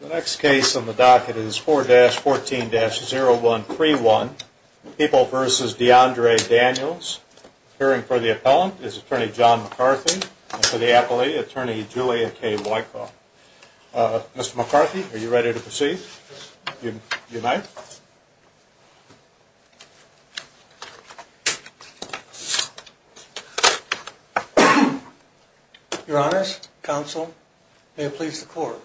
The next case on the docket is 4-14-0131, People v. DeAndre Daniels. Appearing for the appellant is Attorney John McCarthy and for the appellee, Attorney Julia K. Wykoff. Mr. McCarthy, are you ready to proceed? Yes. You may. Your honors, counsel, may it please the court.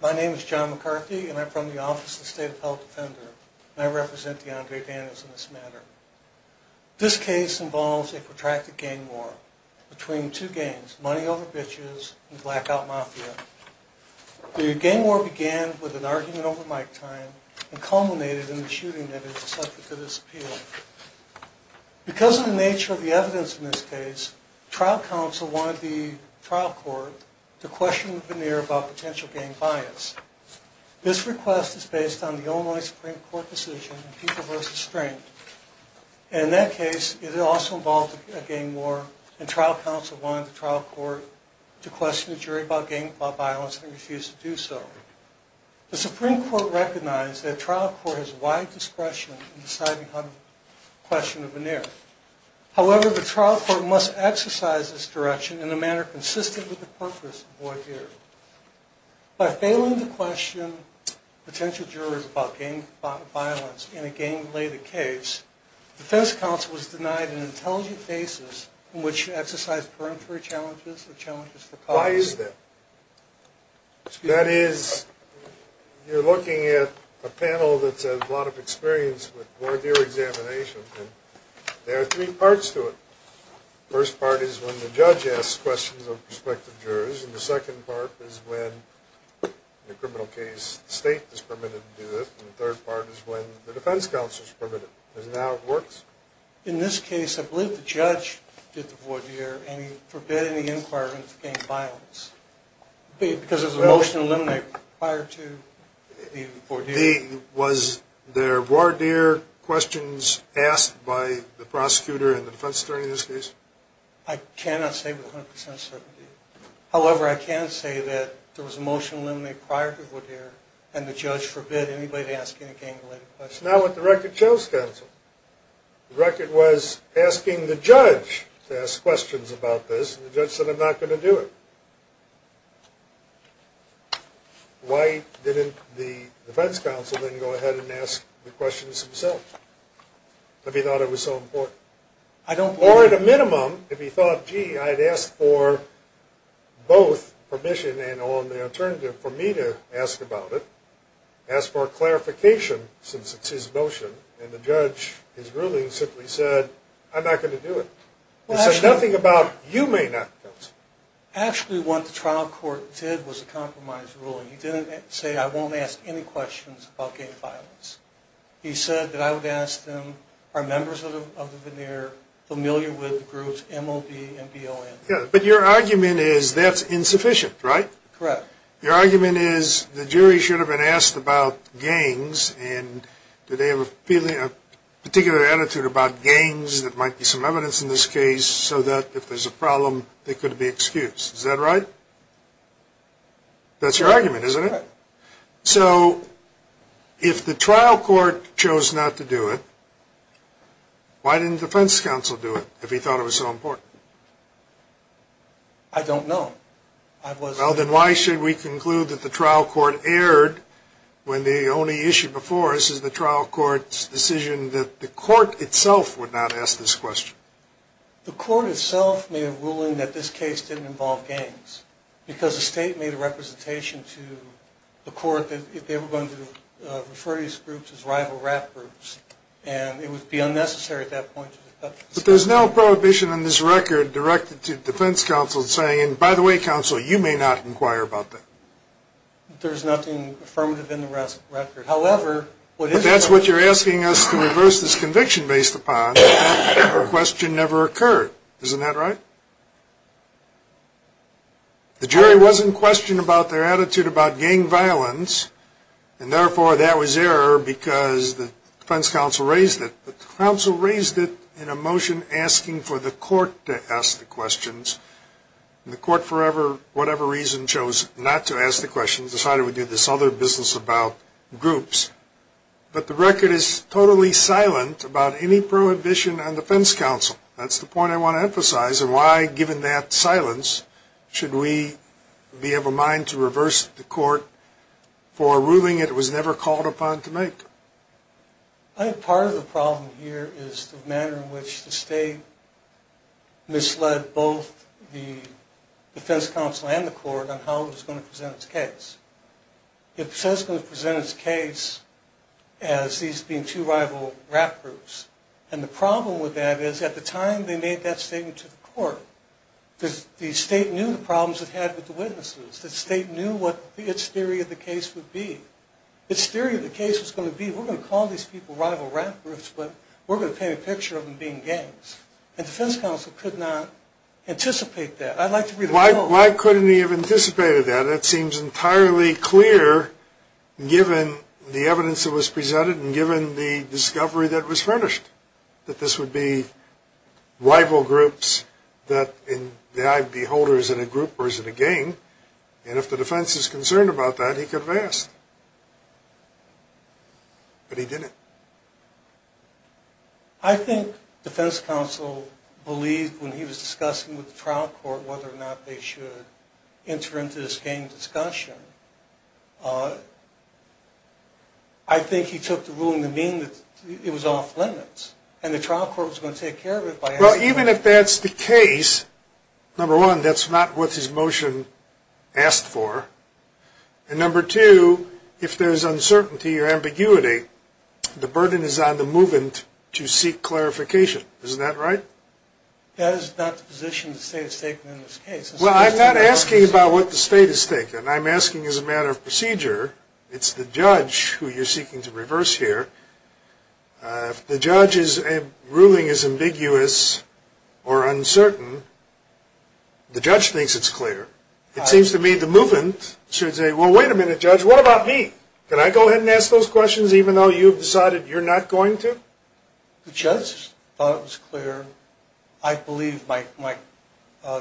My name is John McCarthy and I'm from the Office of the State of Health Defender. I represent DeAndre Daniels in this matter. This case involves a protracted gang war between two gangs, Money Over Bitches and Blackout Mafia. The gang war began with an argument over mic time and culminated in the shooting that ended the subject of this appeal. Because of the nature of the evidence in this case, trial counsel wanted the trial court to question the veneer about potential gang bias. This request is based on the Illinois Supreme Court decision in People v. Strength. In that case, it also involved a gang war and trial counsel wanted the trial court to question the jury about gang violence and refused to do so. The Supreme Court recognized that trial court has wide discretion in deciding on the question of veneer. However, the trial court must exercise this direction in a manner consistent with the purpose of the veneer. By failing to question potential jurors about gang violence in a gang-related case, defense counsel was denied an intelligent basis in which to exercise peremptory challenges or challenges for cause. Why is that? That is, you're looking at a panel that has a lot of experience with voir dire examination and there are three parts to it. The first part is when the judge asks questions of prospective jurors. And the second part is when, in a criminal case, the state is permitted to do it. And the third part is when the defense counsel is permitted. Isn't that how it works? In this case, I believe the judge did the voir dire and he forbid any inquirements of gang violence. Was there voir dire questions asked by the prosecutor and the defense attorney in this case? I cannot say with 100% certainty. However, I can say that there was a motion eliminated prior to voir dire and the judge forbid anybody asking a gang-related question. That's not what the record chose, counsel. The record was asking the judge to ask questions about this and the judge said, I'm not going to do it. Why didn't the defense counsel then go ahead and ask the questions himself if he thought it was so important? Or at a minimum, if he thought, gee, I had asked for both permission and on the alternative for me to ask about it, ask for clarification since it's his motion, and the judge, his ruling simply said, I'm not going to do it. It said nothing about you may not, counsel. Actually, what the trial court did was a compromise ruling. He didn't say, I won't ask any questions about gang violence. He said that I would ask them, are members of the voir dire familiar with the groups MOB and BON? But your argument is that's insufficient, right? Correct. Your argument is the jury should have been asked about gangs and do they have a particular attitude about gangs that might be some evidence in this case so that if there's a problem, they could be excused. Is that right? That's your argument, isn't it? Correct. So if the trial court chose not to do it, why didn't the defense counsel do it if he thought it was so important? I don't know. Well, then why should we conclude that the trial court erred when the only issue before us is the trial court's decision that the court itself would not ask this question? The court itself made a ruling that this case didn't involve gangs because the state made a representation to the court that they were going to refer these groups as rival rap groups and it would be unnecessary at that point. But there's no prohibition on this record directed to defense counsel saying, and by the way, counsel, you may not inquire about that. There's nothing affirmative in the record. If that's what you're asking us to reverse this conviction based upon, that question never occurred. Isn't that right? The jury wasn't questioned about their attitude about gang violence and therefore that was error because the defense counsel raised it. But the counsel raised it in a motion asking for the court to ask the questions. And the court, for whatever reason, chose not to ask the questions, decided to do this other business about groups. But the record is totally silent about any prohibition on defense counsel. That's the point I want to emphasize. And why, given that silence, should we be of a mind to reverse the court for a ruling it was never called upon to make? I think part of the problem here is the manner in which the state misled both the defense counsel and the court on how it was going to present its case. It says it's going to present its case as these being two rival rap groups. And the problem with that is at the time they made that statement to the court, the state knew the problems it had with the witnesses. The state knew what its theory of the case would be. Its theory of the case was going to be, we're going to call these people rival rap groups, but we're going to paint a picture of them being gangs. And defense counsel could not anticipate that. Why couldn't he have anticipated that? That seems entirely clear, given the evidence that was presented and given the discovery that was furnished, that this would be rival groups, that in the eye of the beholder is it a group or is it a gang. And if the defense is concerned about that, he could have asked. But he didn't. I think defense counsel believed when he was discussing with the trial court whether or not they should enter into this gang discussion. I think he took the ruling to mean that it was off limits and the trial court was going to take care of it. Well, even if that's the case, number one, that's not what his motion asked for. And number two, if there's uncertainty or ambiguity, the burden is on the movant to seek clarification. Isn't that right? That is not the position the state has taken in this case. Well, I'm not asking about what the state has taken. I'm asking as a matter of procedure. It's the judge who you're seeking to reverse here. If the judge's ruling is ambiguous or uncertain, the judge thinks it's clear. It seems to me the movant should say, well, wait a minute, judge, what about me? Can I go ahead and ask those questions even though you've decided you're not going to? The judge thought it was clear. I believe my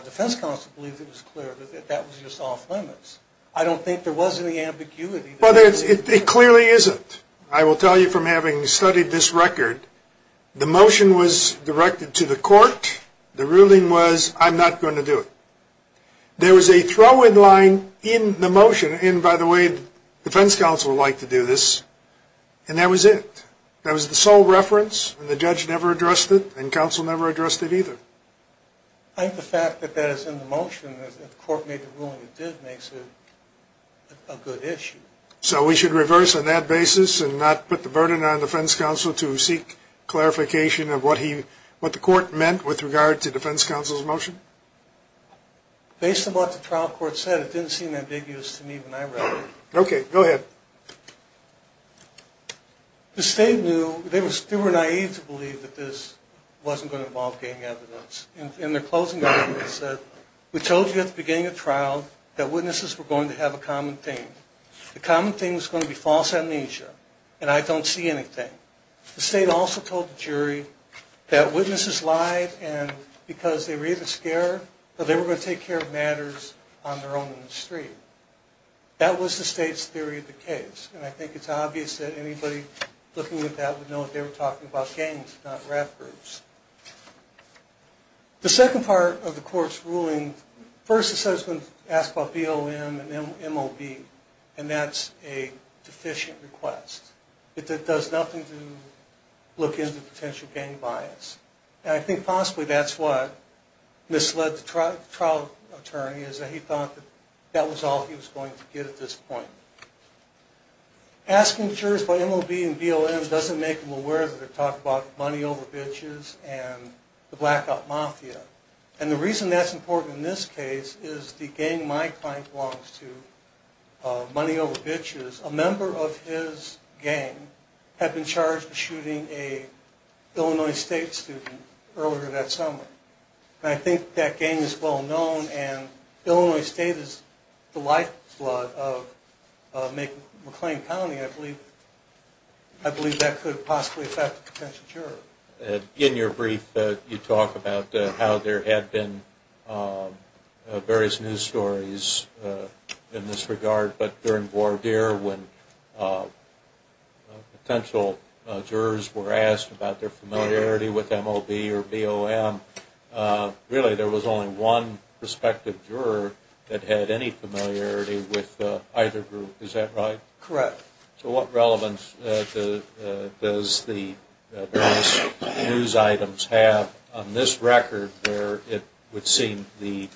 defense counsel believed it was clear that that was just off limits. I don't think there was any ambiguity. Well, it clearly isn't. I will tell you from having studied this record, the motion was directed to the court. The ruling was I'm not going to do it. There was a throw-in line in the motion, and by the way, defense counsel would like to do this, and that was it. That was the sole reference, and the judge never addressed it, and counsel never addressed it either. I think the fact that that is in the motion, that the court made the ruling it did, makes it a good issue. So we should reverse on that basis and not put the burden on defense counsel to seek clarification Based on what the trial court said, it didn't seem ambiguous to me when I read it. Okay, go ahead. The state knew they were naive to believe that this wasn't going to involve getting evidence, and their closing argument said, we told you at the beginning of trial that witnesses were going to have a common theme. The common theme was going to be false amnesia, and I don't see anything. The state also told the jury that witnesses lied because they were either scared or they were going to take care of matters on their own in the street. That was the state's theory of the case, and I think it's obvious that anybody looking at that would know that they were talking about gangs, not rap groups. The second part of the court's ruling, first the settlement asked about BLM and MLB, and that's a deficient request. It does nothing to look into potential gang bias. And I think possibly that's what misled the trial attorney, is that he thought that that was all he was going to get at this point. Asking jurors about MLB and BLM doesn't make them aware that they're talking about money over bitches and the blackout mafia. And the reason that's important in this case is the gang my client belongs to, Money Over Bitches, a member of his gang had been charged with shooting an Illinois State student earlier that summer. And I think that gang is well known, and Illinois State is the lifeblood of McLean County. I believe that could possibly affect the potential juror. In your brief you talk about how there had been various news stories in this regard, but during voir dire when potential jurors were asked about their familiarity with MLB or BLM, really there was only one prospective juror that had any familiarity with either group. Is that right? Correct. So what relevance does the various news items have on this record where it would seem the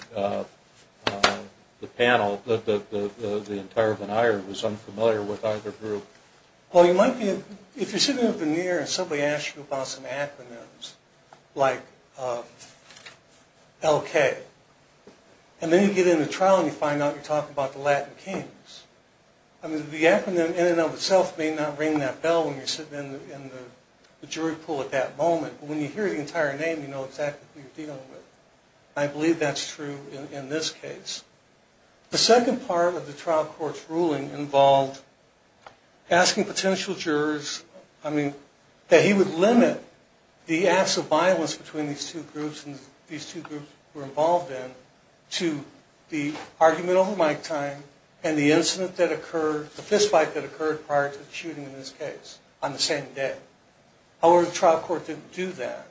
panel, the entire veneer was unfamiliar with either group? Well you might be, if you're sitting up in the air and somebody asks you about some acronyms, like LK, and then you get into trial and you find out you're talking about the Latin Kings. I mean the acronym in and of itself may not ring that bell when you're sitting in the jury pool at that moment, but when you hear the entire name you know exactly who you're dealing with. I believe that's true in this case. The second part of the trial court's ruling involved asking potential jurors, I mean that he would limit the acts of violence between these two groups, were involved in to the argument over mic time and the incident that occurred, the fist fight that occurred prior to the shooting in this case on the same day. However, the trial court didn't do that.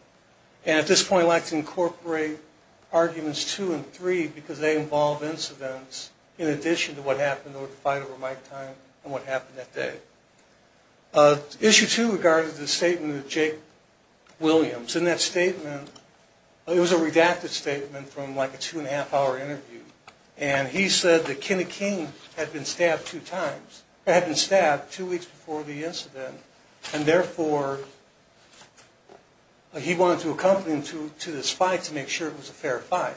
And at this point I'd like to incorporate arguments two and three because they involve incidents in addition to what happened over the fight over mic time and what happened that day. Issue two regarded the statement of Jake Williams. And that statement, it was a redacted statement from like a two and a half hour interview. And he said that Kenny King had been stabbed two weeks before the incident and therefore he wanted to accompany him to this fight to make sure it was a fair fight.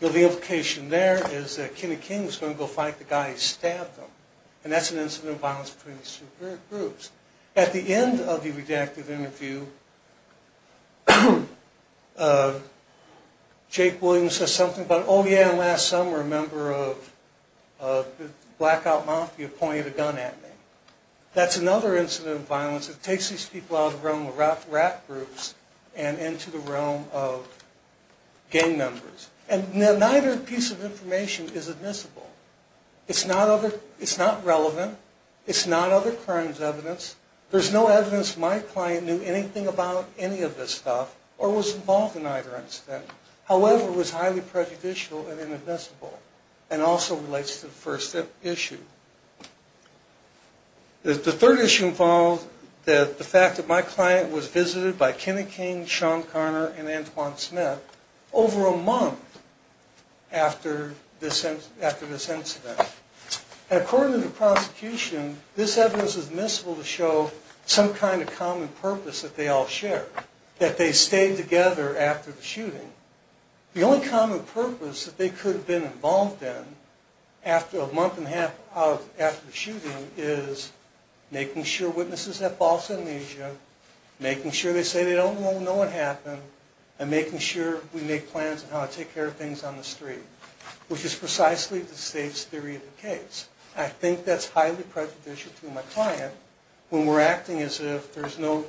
The implication there is that Kenny King was going to go fight the guy who stabbed him. And that's an incident of violence between these two groups. At the end of the redacted interview, Jake Williams says something about, oh yeah, last summer a member of the Blackout Mafia pointed a gun at me. That's another incident of violence that takes these people out of the realm of rap groups and into the realm of gang members. And neither piece of information is admissible. It's not relevant. It's not other crimes evidence. There's no evidence my client knew anything about any of this stuff or was involved in either incident. However, it was highly prejudicial and inadmissible and also relates to the first issue. The third issue involved the fact that my client was visited by Kenny King, Sean Carner, and Antoine Smith over a month after this incident. And according to the prosecution, this evidence is admissible to show some kind of common purpose that they all shared, that they stayed together after the shooting. The only common purpose that they could have been involved in after a month and a half after the shooting is making sure witnesses have false amnesia, making sure they say they don't know what happened, and making sure we make plans on how to take care of things on the street, which is precisely the state's theory of the case. I think that's highly prejudicial to my client when we're acting as if there's no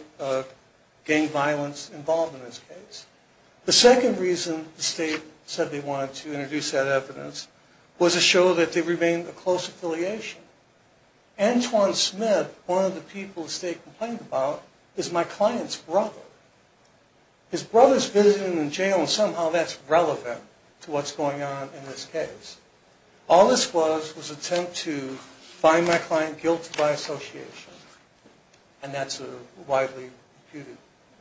gang violence involved in this case. The second reason the state said they wanted to introduce that evidence was to show that they remained a close affiliation. Antoine Smith, one of the people the state complained about, is my client's brother. His brother's visiting him in jail, and somehow that's relevant to what's going on in this case. All this was was an attempt to find my client guilty by association, and that's a widely disputed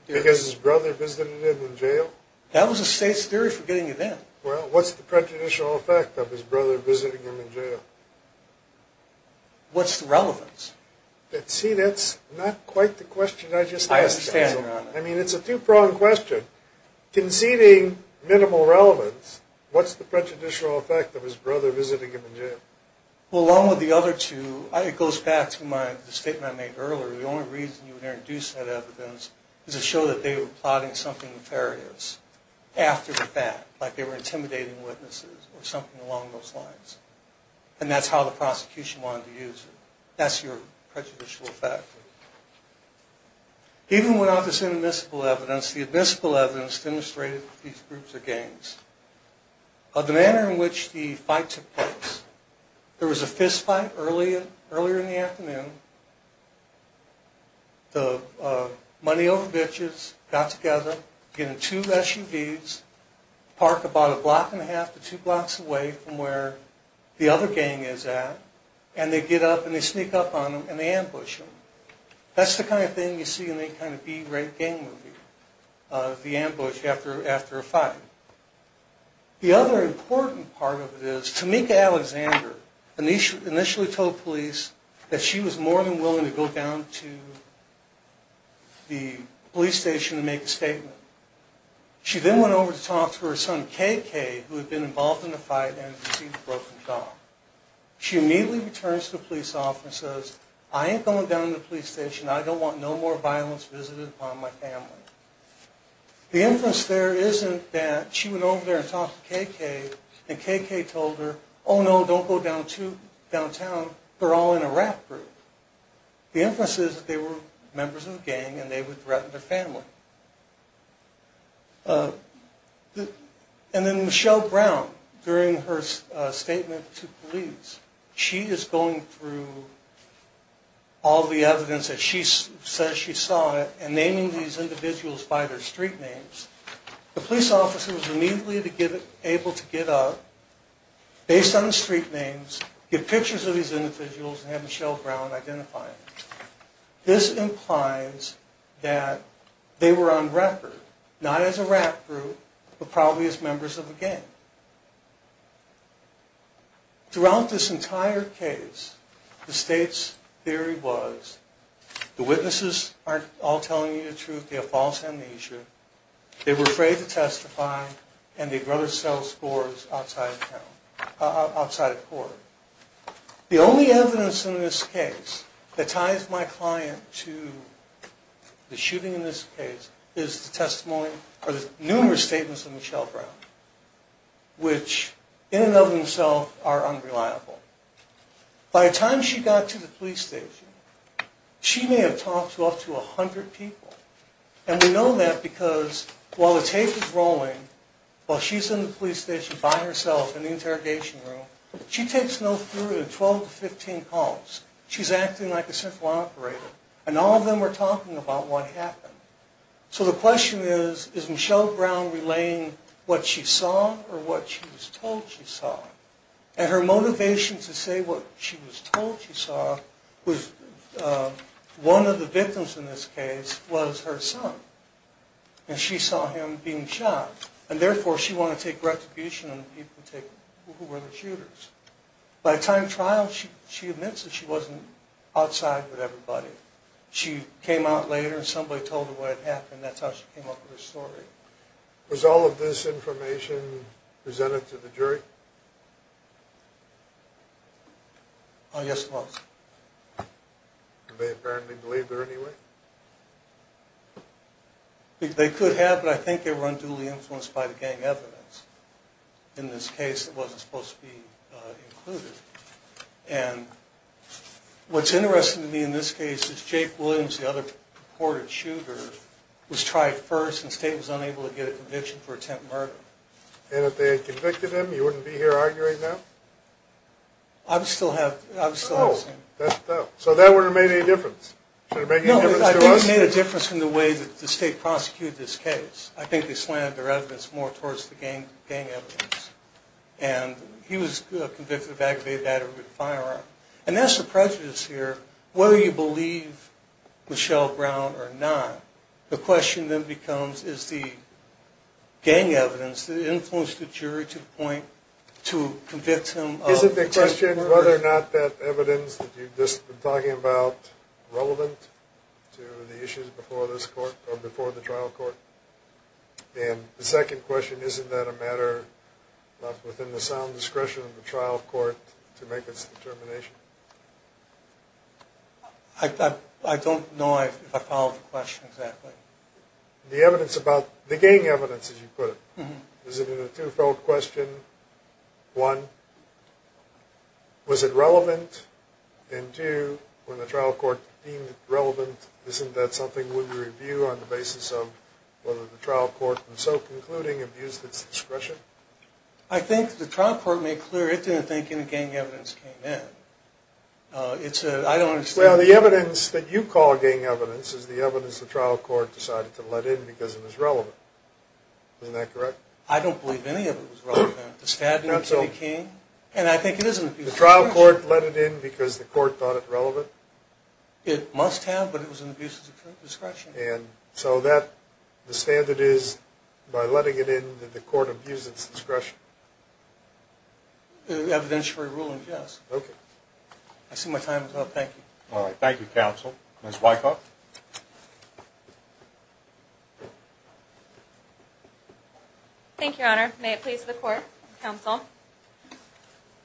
theory. Because his brother visited him in jail? That was the state's theory for getting it in. Well, what's the prejudicial effect of his brother visiting him in jail? What's the relevance? See, that's not quite the question I just asked. I understand, Your Honor. I mean, it's a two-pronged question. Conceding minimal relevance, what's the prejudicial effect of his brother visiting him in jail? Well, along with the other two, it goes back to the statement I made earlier. The only reason you would introduce that evidence is to show that they were plotting something nefarious after the fact, like they were intimidating witnesses or something along those lines. And that's how the prosecution wanted to use it. That's your prejudicial effect. Even without this inadmissible evidence, the admissible evidence demonstrated that these groups are gangs. The manner in which the fight took place, there was a fistfight earlier in the afternoon. The money-over-bitches got together, get in two SUVs, parked about a block and a half to two blocks away from where the other gang is at, and they get up and they sneak up on them and they ambush them. That's the kind of thing you see in any kind of B-rate gang movie, the ambush after a fight. The other important part of it is, Tamika Alexander initially told police that she was more than willing to go down to the police station and make a statement. She then went over to talk to her son, KK, who had been involved in the fight and had received a broken jaw. She immediately returns to the police officer and says, I ain't going down to the police station. I don't want no more violence visited upon my family. The inference there isn't that she went over there and talked to KK, and KK told her, oh, no, don't go downtown. They're all in a rap group. The inference is that they were members of a gang and they would threaten their family. And then Michelle Brown, during her statement to police, she is going through all the evidence that she says she saw and naming these individuals by their street names. The police officer was immediately able to get up, based on the street names, get pictures of these individuals and have Michelle Brown identify them. This implies that they were on record, not as a rap group, but probably as members of a gang. Throughout this entire case, the state's theory was, the witnesses aren't all telling you the truth, they have false amnesia, they were afraid to testify, and they'd rather sell scores outside of court. The only evidence in this case that ties my client to the shooting in this case is the testimony, or the numerous statements of Michelle Brown, which in and of themselves are unreliable. By the time she got to the police station, she may have talked to up to 100 people. And we know that because while the tape is rolling, while she's in the police station by herself in the interrogation room, she takes no further than 12 to 15 calls. She's acting like a simple operator. And all of them are talking about what happened. So the question is, is Michelle Brown relaying what she saw or what she was told she saw? And her motivation to say what she was told she saw was, one of the victims in this case was her son. And she saw him being shot. And therefore, she wanted to take retribution on the people who were the shooters. By the time of trial, she admits that she wasn't outside with everybody. She came out later and somebody told her what had happened. That's how she came up with this story. Was all of this information presented to the jury? Oh, yes, it was. And they apparently believed her anyway? They could have, but I think they were unduly influenced by the gang evidence. In this case, it wasn't supposed to be included. And what's interesting to me in this case is Jake Williams, the other purported shooter, was tried first, and the state was unable to get a conviction for attempt murder. And if they had convicted him, you wouldn't be here arguing now? I would still have seen him. So that wouldn't have made any difference? No, I think it made a difference in the way that the state prosecuted this case. I think they slanted their evidence more towards the gang evidence. And he was convicted of aggravated battery with a firearm. And that's the prejudice here. Whether you believe Michelle Brown or not, the question then becomes is the gang evidence that influenced the jury to the point to convict him of attempt murder? The first question, whether or not that evidence that you've just been talking about is relevant to the issues before the trial court? And the second question, isn't that a matter left within the sound discretion of the trial court to make its determination? I don't know if I followed the question exactly. The evidence about the gang evidence, as you put it. Is it in a two-fold question? One, was it relevant? And two, when the trial court deemed it relevant, isn't that something we would review on the basis of whether the trial court, in so concluding, abused its discretion? I think the trial court made clear it didn't think any gang evidence came in. I don't understand. Well, the evidence that you call gang evidence is the evidence the trial court decided to let in because it was relevant. Isn't that correct? I don't believe any of it was relevant. The stabbing of Kitty King, and I think it is in the abuse of discretion. The trial court let it in because the court thought it relevant? It must have, but it was in the abuse of discretion. And so the standard is by letting it in, did the court abuse its discretion? Evidentiary ruling, yes. Okay. I see my time is up. Thank you. All right. Thank you, counsel. Ms. Wykoff. Thank you, Your Honor. May it please the court, counsel.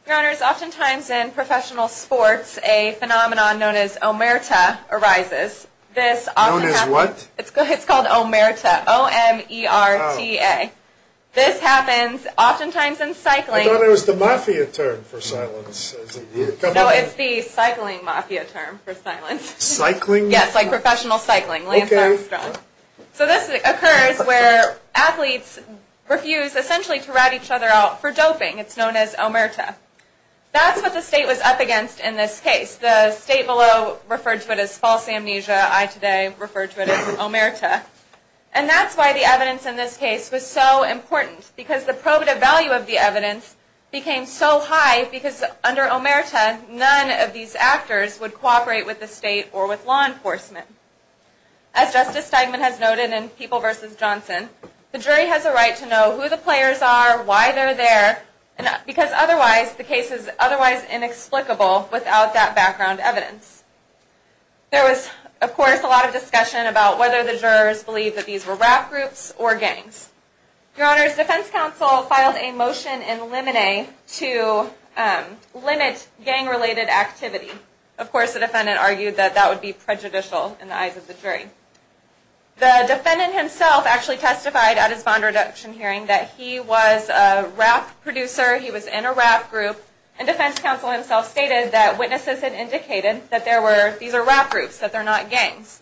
Your Honors, oftentimes in professional sports, a phenomenon known as omerta arises. Known as what? It's called omerta, O-M-E-R-T-A. This happens oftentimes in cycling. I thought it was the mafia term for silence. No, it's the cycling mafia term for silence. Cycling? Yes, like professional cycling, Lance Armstrong. Okay. So this occurs where athletes refuse essentially to rat each other out for doping. It's known as omerta. That's what the state was up against in this case. The state below referred to it as false amnesia. I today refer to it as omerta. And that's why the evidence in this case was so important, because the probative value of the evidence became so high, because under omerta, none of these actors would cooperate with the state or with law enforcement. As Justice Steigman has noted in People v. Johnson, the jury has a right to know who the players are, why they're there, because otherwise, the case is otherwise inexplicable without that background evidence. There was, of course, a lot of discussion about whether the jurors believed that these were rap groups or gangs. Your Honors, defense counsel filed a motion in limine to limit gang-related activity. Of course, the defendant argued that that would be prejudicial in the eyes of the jury. The defendant himself actually testified at his bond reduction hearing that he was a rap producer, he was in a rap group, and defense counsel himself stated that witnesses had indicated that these are rap groups, that they're not gangs.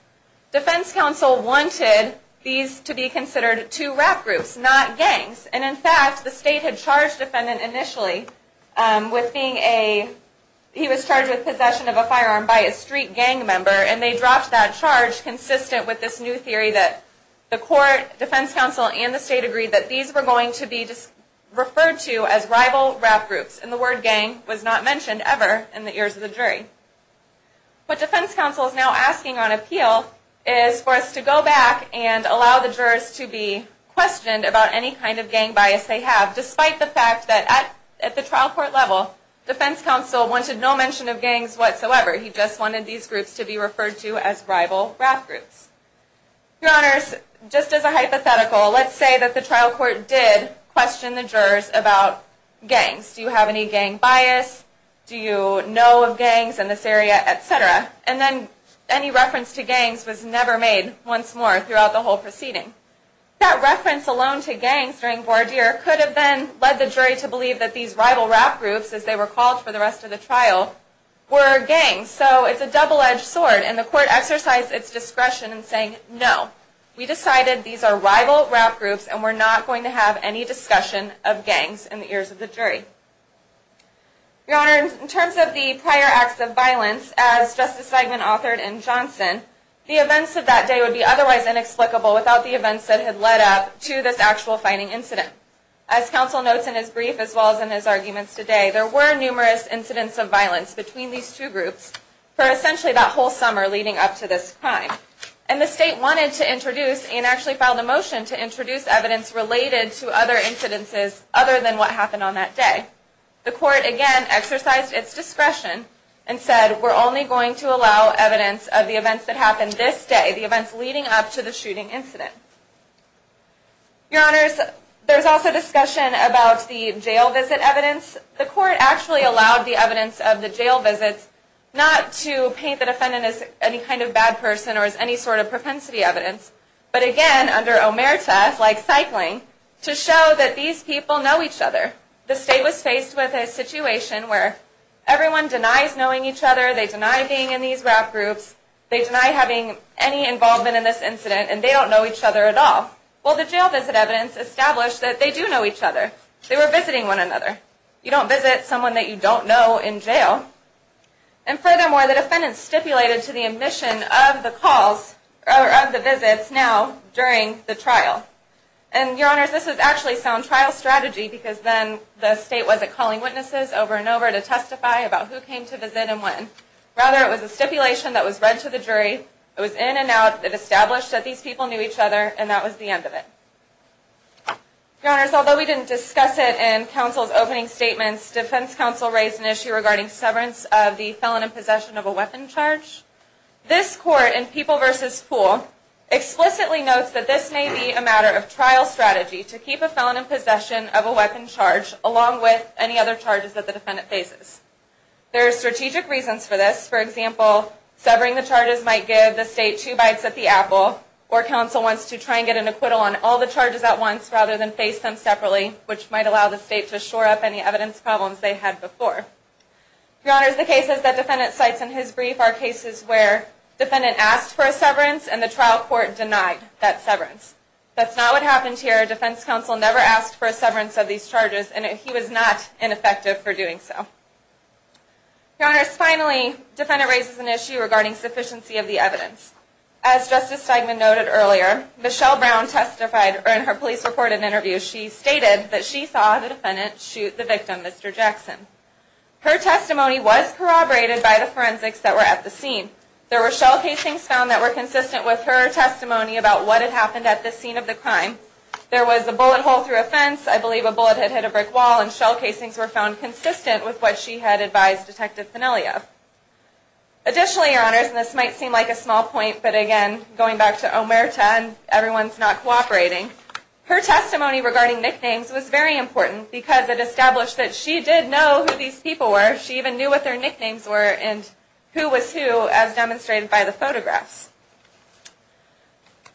Defense counsel wanted these to be considered two rap groups, not gangs, and in fact, the state had charged the defendant initially with being a, he was charged with possession of a firearm by a street gang member, and they dropped that charge consistent with this new theory that the court, defense counsel, and the state agreed that these were going to be referred to as rival rap groups, and the word gang was not mentioned ever in the ears of the jury. What defense counsel is now asking on appeal is for us to go back and allow the jurors to be questioned about any kind of gang bias they have, despite the fact that at the trial court level, defense counsel wanted no mention of gangs whatsoever. He just wanted these groups to be referred to as rival rap groups. Your Honors, just as a hypothetical, let's say that the trial court did question the jurors about gangs. Do you have any gang bias? Do you know of gangs in this area, et cetera? And then any reference to gangs was never made once more throughout the whole proceeding. That reference alone to gangs during voir dire could have then led the jury to believe that these rival rap groups, as they were called for the rest of the trial, were gangs. So it's a double-edged sword, and the court exercised its discretion in saying no. We decided these are rival rap groups, and we're not going to have any discussion of gangs in the ears of the jury. Your Honors, in terms of the prior acts of violence, as Justice Seidman authored in Johnson, the events of that day would be otherwise inexplicable without the events that had led up to this actual fighting incident. As counsel notes in his brief, as well as in his arguments today, there were numerous incidents of violence between these two groups for essentially that whole summer leading up to this crime. And the state wanted to introduce, and actually filed a motion to introduce evidence related to other incidences other than what happened on that day. The court, again, exercised its discretion and said, we're only going to allow evidence of the events that happened this day, the events leading up to the shooting incident. Your Honors, there's also discussion about the jail visit evidence. The court actually allowed the evidence of the jail visits not to paint the defendant as any kind of bad person or as any sort of propensity evidence, but again, under omerta, like cycling, to show that these people know each other. The state was faced with a situation where everyone denies knowing each other, they deny being in these rap groups, they deny having any involvement in this incident, and they don't know each other at all. Well, the jail visit evidence established that they do know each other. They were visiting one another. You don't visit someone that you don't know in jail. And furthermore, the defendant stipulated to the admission of the calls, or of the visits, now, during the trial. And Your Honors, this is actually sound trial strategy, because then the state wasn't calling witnesses over and over to testify about who came to visit and when. Rather, it was a stipulation that was read to the jury, it was in and out, it established that these people knew each other, and that was the end of it. Your Honors, although we didn't discuss it in counsel's opening statements, defense counsel raised an issue regarding severance of the felon in possession of a weapon charge. This court, in People v. Pool, explicitly notes that this may be a matter of trial strategy to keep a felon in possession of a weapon charge, along with any other charges that the defendant faces. There are strategic reasons for this. For example, severing the charges might give the state two bites at the apple, or counsel wants to try and get an acquittal on all the charges at once, rather than face them separately, which might allow the state to shore up any evidence problems they had before. Your Honors, the cases that defendant cites in his brief are cases where defendant asked for a severance, and the trial court denied that severance. That's not what happened here. Defense counsel never asked for a severance of these charges, and he was not ineffective for doing so. Your Honors, finally, defendant raises an issue regarding sufficiency of the evidence. As Justice Stegman noted earlier, Michelle Brown testified, or in her police report and interview, she stated that she saw the defendant shoot the victim, Mr. Jackson. Her testimony was corroborated by the forensics that were at the scene. There were shell casings found that were consistent with her testimony about what had happened at the scene of the crime. There was a bullet hole through a fence. I believe a bullet had hit a brick wall, and shell casings were found consistent with what she had advised Detective Fenelia. Additionally, Your Honors, and this might seem like a small point, but again, going back to Omerta and everyone's not cooperating, her testimony regarding nicknames was very important because it established that she did know who these people were. She even knew what their nicknames were, and who was who as demonstrated by the photographs.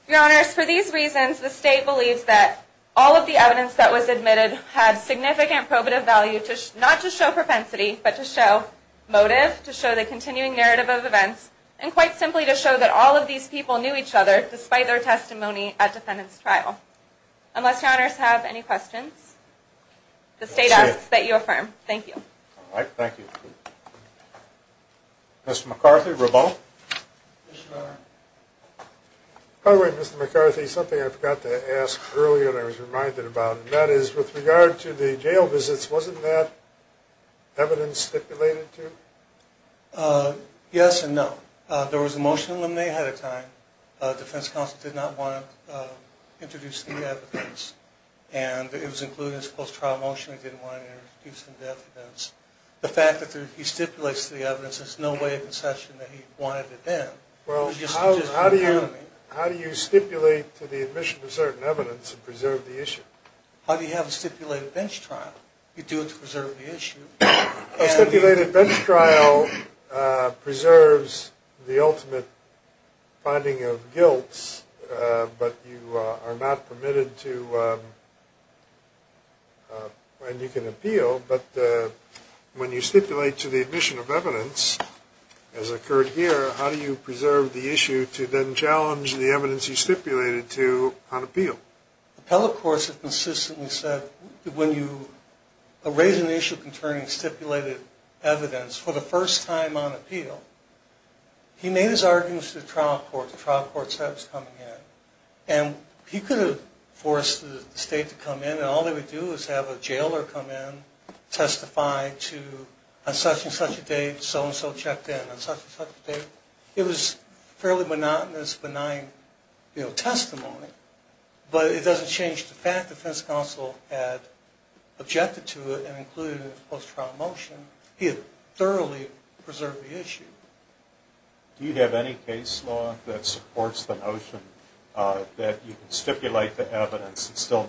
Your Honors, for these reasons, the State believes that all of the evidence that was admitted had significant probative value, not just to show propensity, but to show motive, to show the continuing narrative of events, and quite simply to show that all of these people knew each other despite their testimony at defendant's trial. Unless Your Honors have any questions, the State asks that you affirm. Thank you. All right, thank you. Mr. McCarthy, rebuttal. By the way, Mr. McCarthy, something I forgot to ask earlier and I was reminded about, and that is, with regard to the jail visits, wasn't that evidence stipulated too? Yes and no. There was a motion in Lemonnay ahead of time. Defense counsel did not want to introduce any evidence, and it was included in his post-trial motion. He didn't want to introduce any evidence. The fact that he stipulates the evidence, there's no way of concession that he wanted it then. Well, how do you stipulate to the admission of certain evidence and preserve the issue? How do you have a stipulated bench trial? You do it to preserve the issue. A stipulated bench trial preserves the ultimate finding of guilt, but you are not permitted to, and you can appeal, but when you stipulate to the admission of evidence, as occurred here, how do you preserve the issue to then challenge the evidence you stipulated to on appeal? Appellate courts have consistently said that when you raise an issue concerning stipulated evidence for the first time on appeal, he made his arguments to the trial court. The trial court said it was coming in, and he could have forced the state to come in, and all they would do is have a jailer come in, testify to, on such and such a date, so-and-so checked in on such and such a date. It was fairly monotonous, benign testimony, but it doesn't change the fact the defense counsel had objected to it and included it in his post-trial motion. He had thoroughly preserved the issue. Do you have any case law that supports the notion that you can stipulate the evidence and still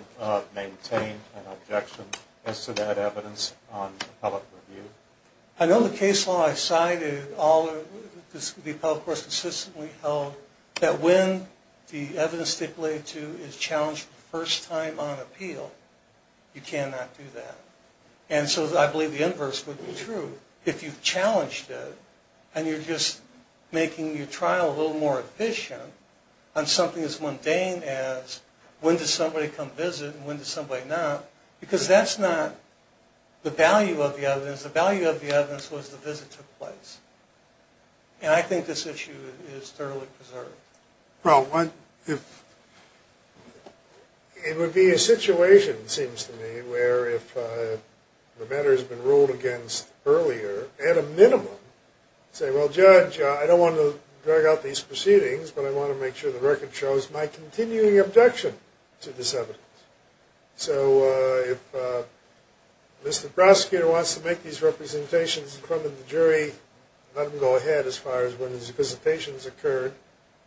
maintain an objection as to that evidence on appellate review? I know the case law I cited, the appellate courts consistently held, that when the evidence stipulated to is challenged for the first time on appeal, you cannot do that. And so I believe the inverse would be true if you challenged it, and you're just making your trial a little more efficient on something as mundane as when does somebody come visit and when does somebody not, because that's not the value of the evidence. The value of the evidence was the visit took place. And I think this issue is thoroughly preserved. Well, it would be a situation, it seems to me, where if the matter has been ruled against earlier, at a minimum, say, well, judge, I don't want to drag out these proceedings, but I want to make sure the record shows my continuing objection to this evidence. So if Mr. Prosecutor wants to make these representations in front of the jury, let him go ahead as far as when his visitation has occurred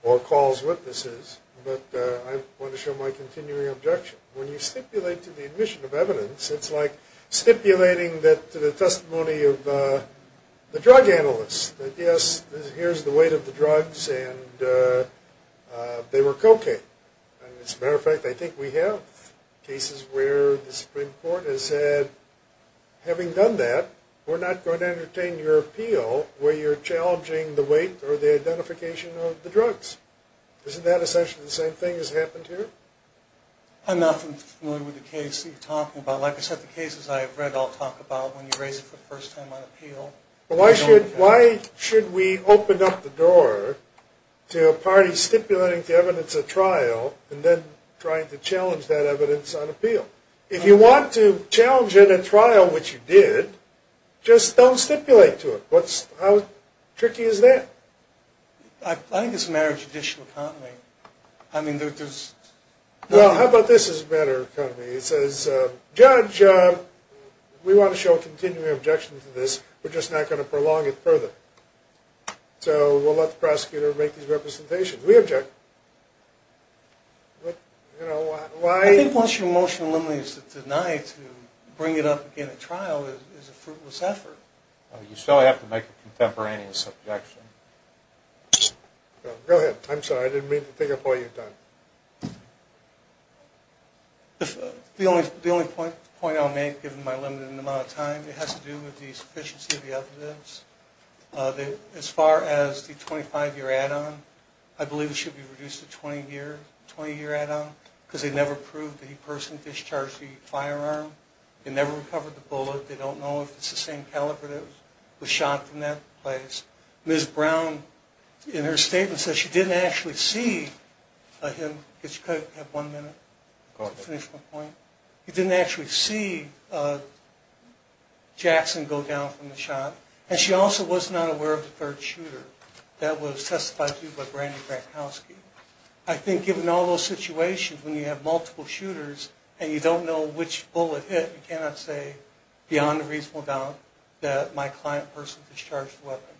or calls witnesses, but I want to show my continuing objection. When you stipulate to the admission of evidence, it's like stipulating to the testimony of the drug analysts that, yes, here's the weight of the drugs and they were cocaine. As a matter of fact, I think we have cases where the Supreme Court has said, having done that, we're not going to entertain your appeal where you're challenging the weight or the identification of the drugs. Isn't that essentially the same thing that's happened here? I'm not familiar with the case that you're talking about. Like I said, the cases I have read all talk about when you raise it for the first time on appeal. Why should we open up the door to a party stipulating to evidence a trial and then trying to challenge that evidence on appeal? If you want to challenge it at trial, which you did, just don't stipulate to it. How tricky is that? I think it's a matter of judicial economy. Well, how about this as a matter of economy? It says, Judge, we want to show a continuing objection to this. We're just not going to prolong it further. So we'll let the prosecutor make these representations. We object. I think once your motion eliminates the deny to bring it up again at trial is a fruitless effort. You still have to make a contemporaneous objection. Go ahead. I'm sorry. I didn't mean to take up all your time. The only point I'll make, given my limited amount of time, has to do with the sufficiency of the evidence. As far as the 25-year add-on, I believe it should be reduced to 20-year add-on because they never proved that he personally discharged the firearm. They never recovered the bullet. They don't know if it's the same caliber that was shot in that place. Ms. Brown, in her statement, says she didn't actually see him. Go ahead. She didn't actually see Jackson go down from the shot, and she also was not aware of the third shooter. That was testified to by Brandy Brankowski. I think given all those situations when you have multiple shooters and you don't know which bullet hit, you cannot say beyond a reasonable doubt that my client personally discharged the weapon.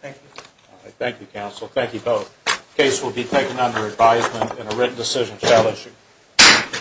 Thank you. All right. Thank you, counsel. Thank you both. This case will be taken under advisement and a written decision shall issue.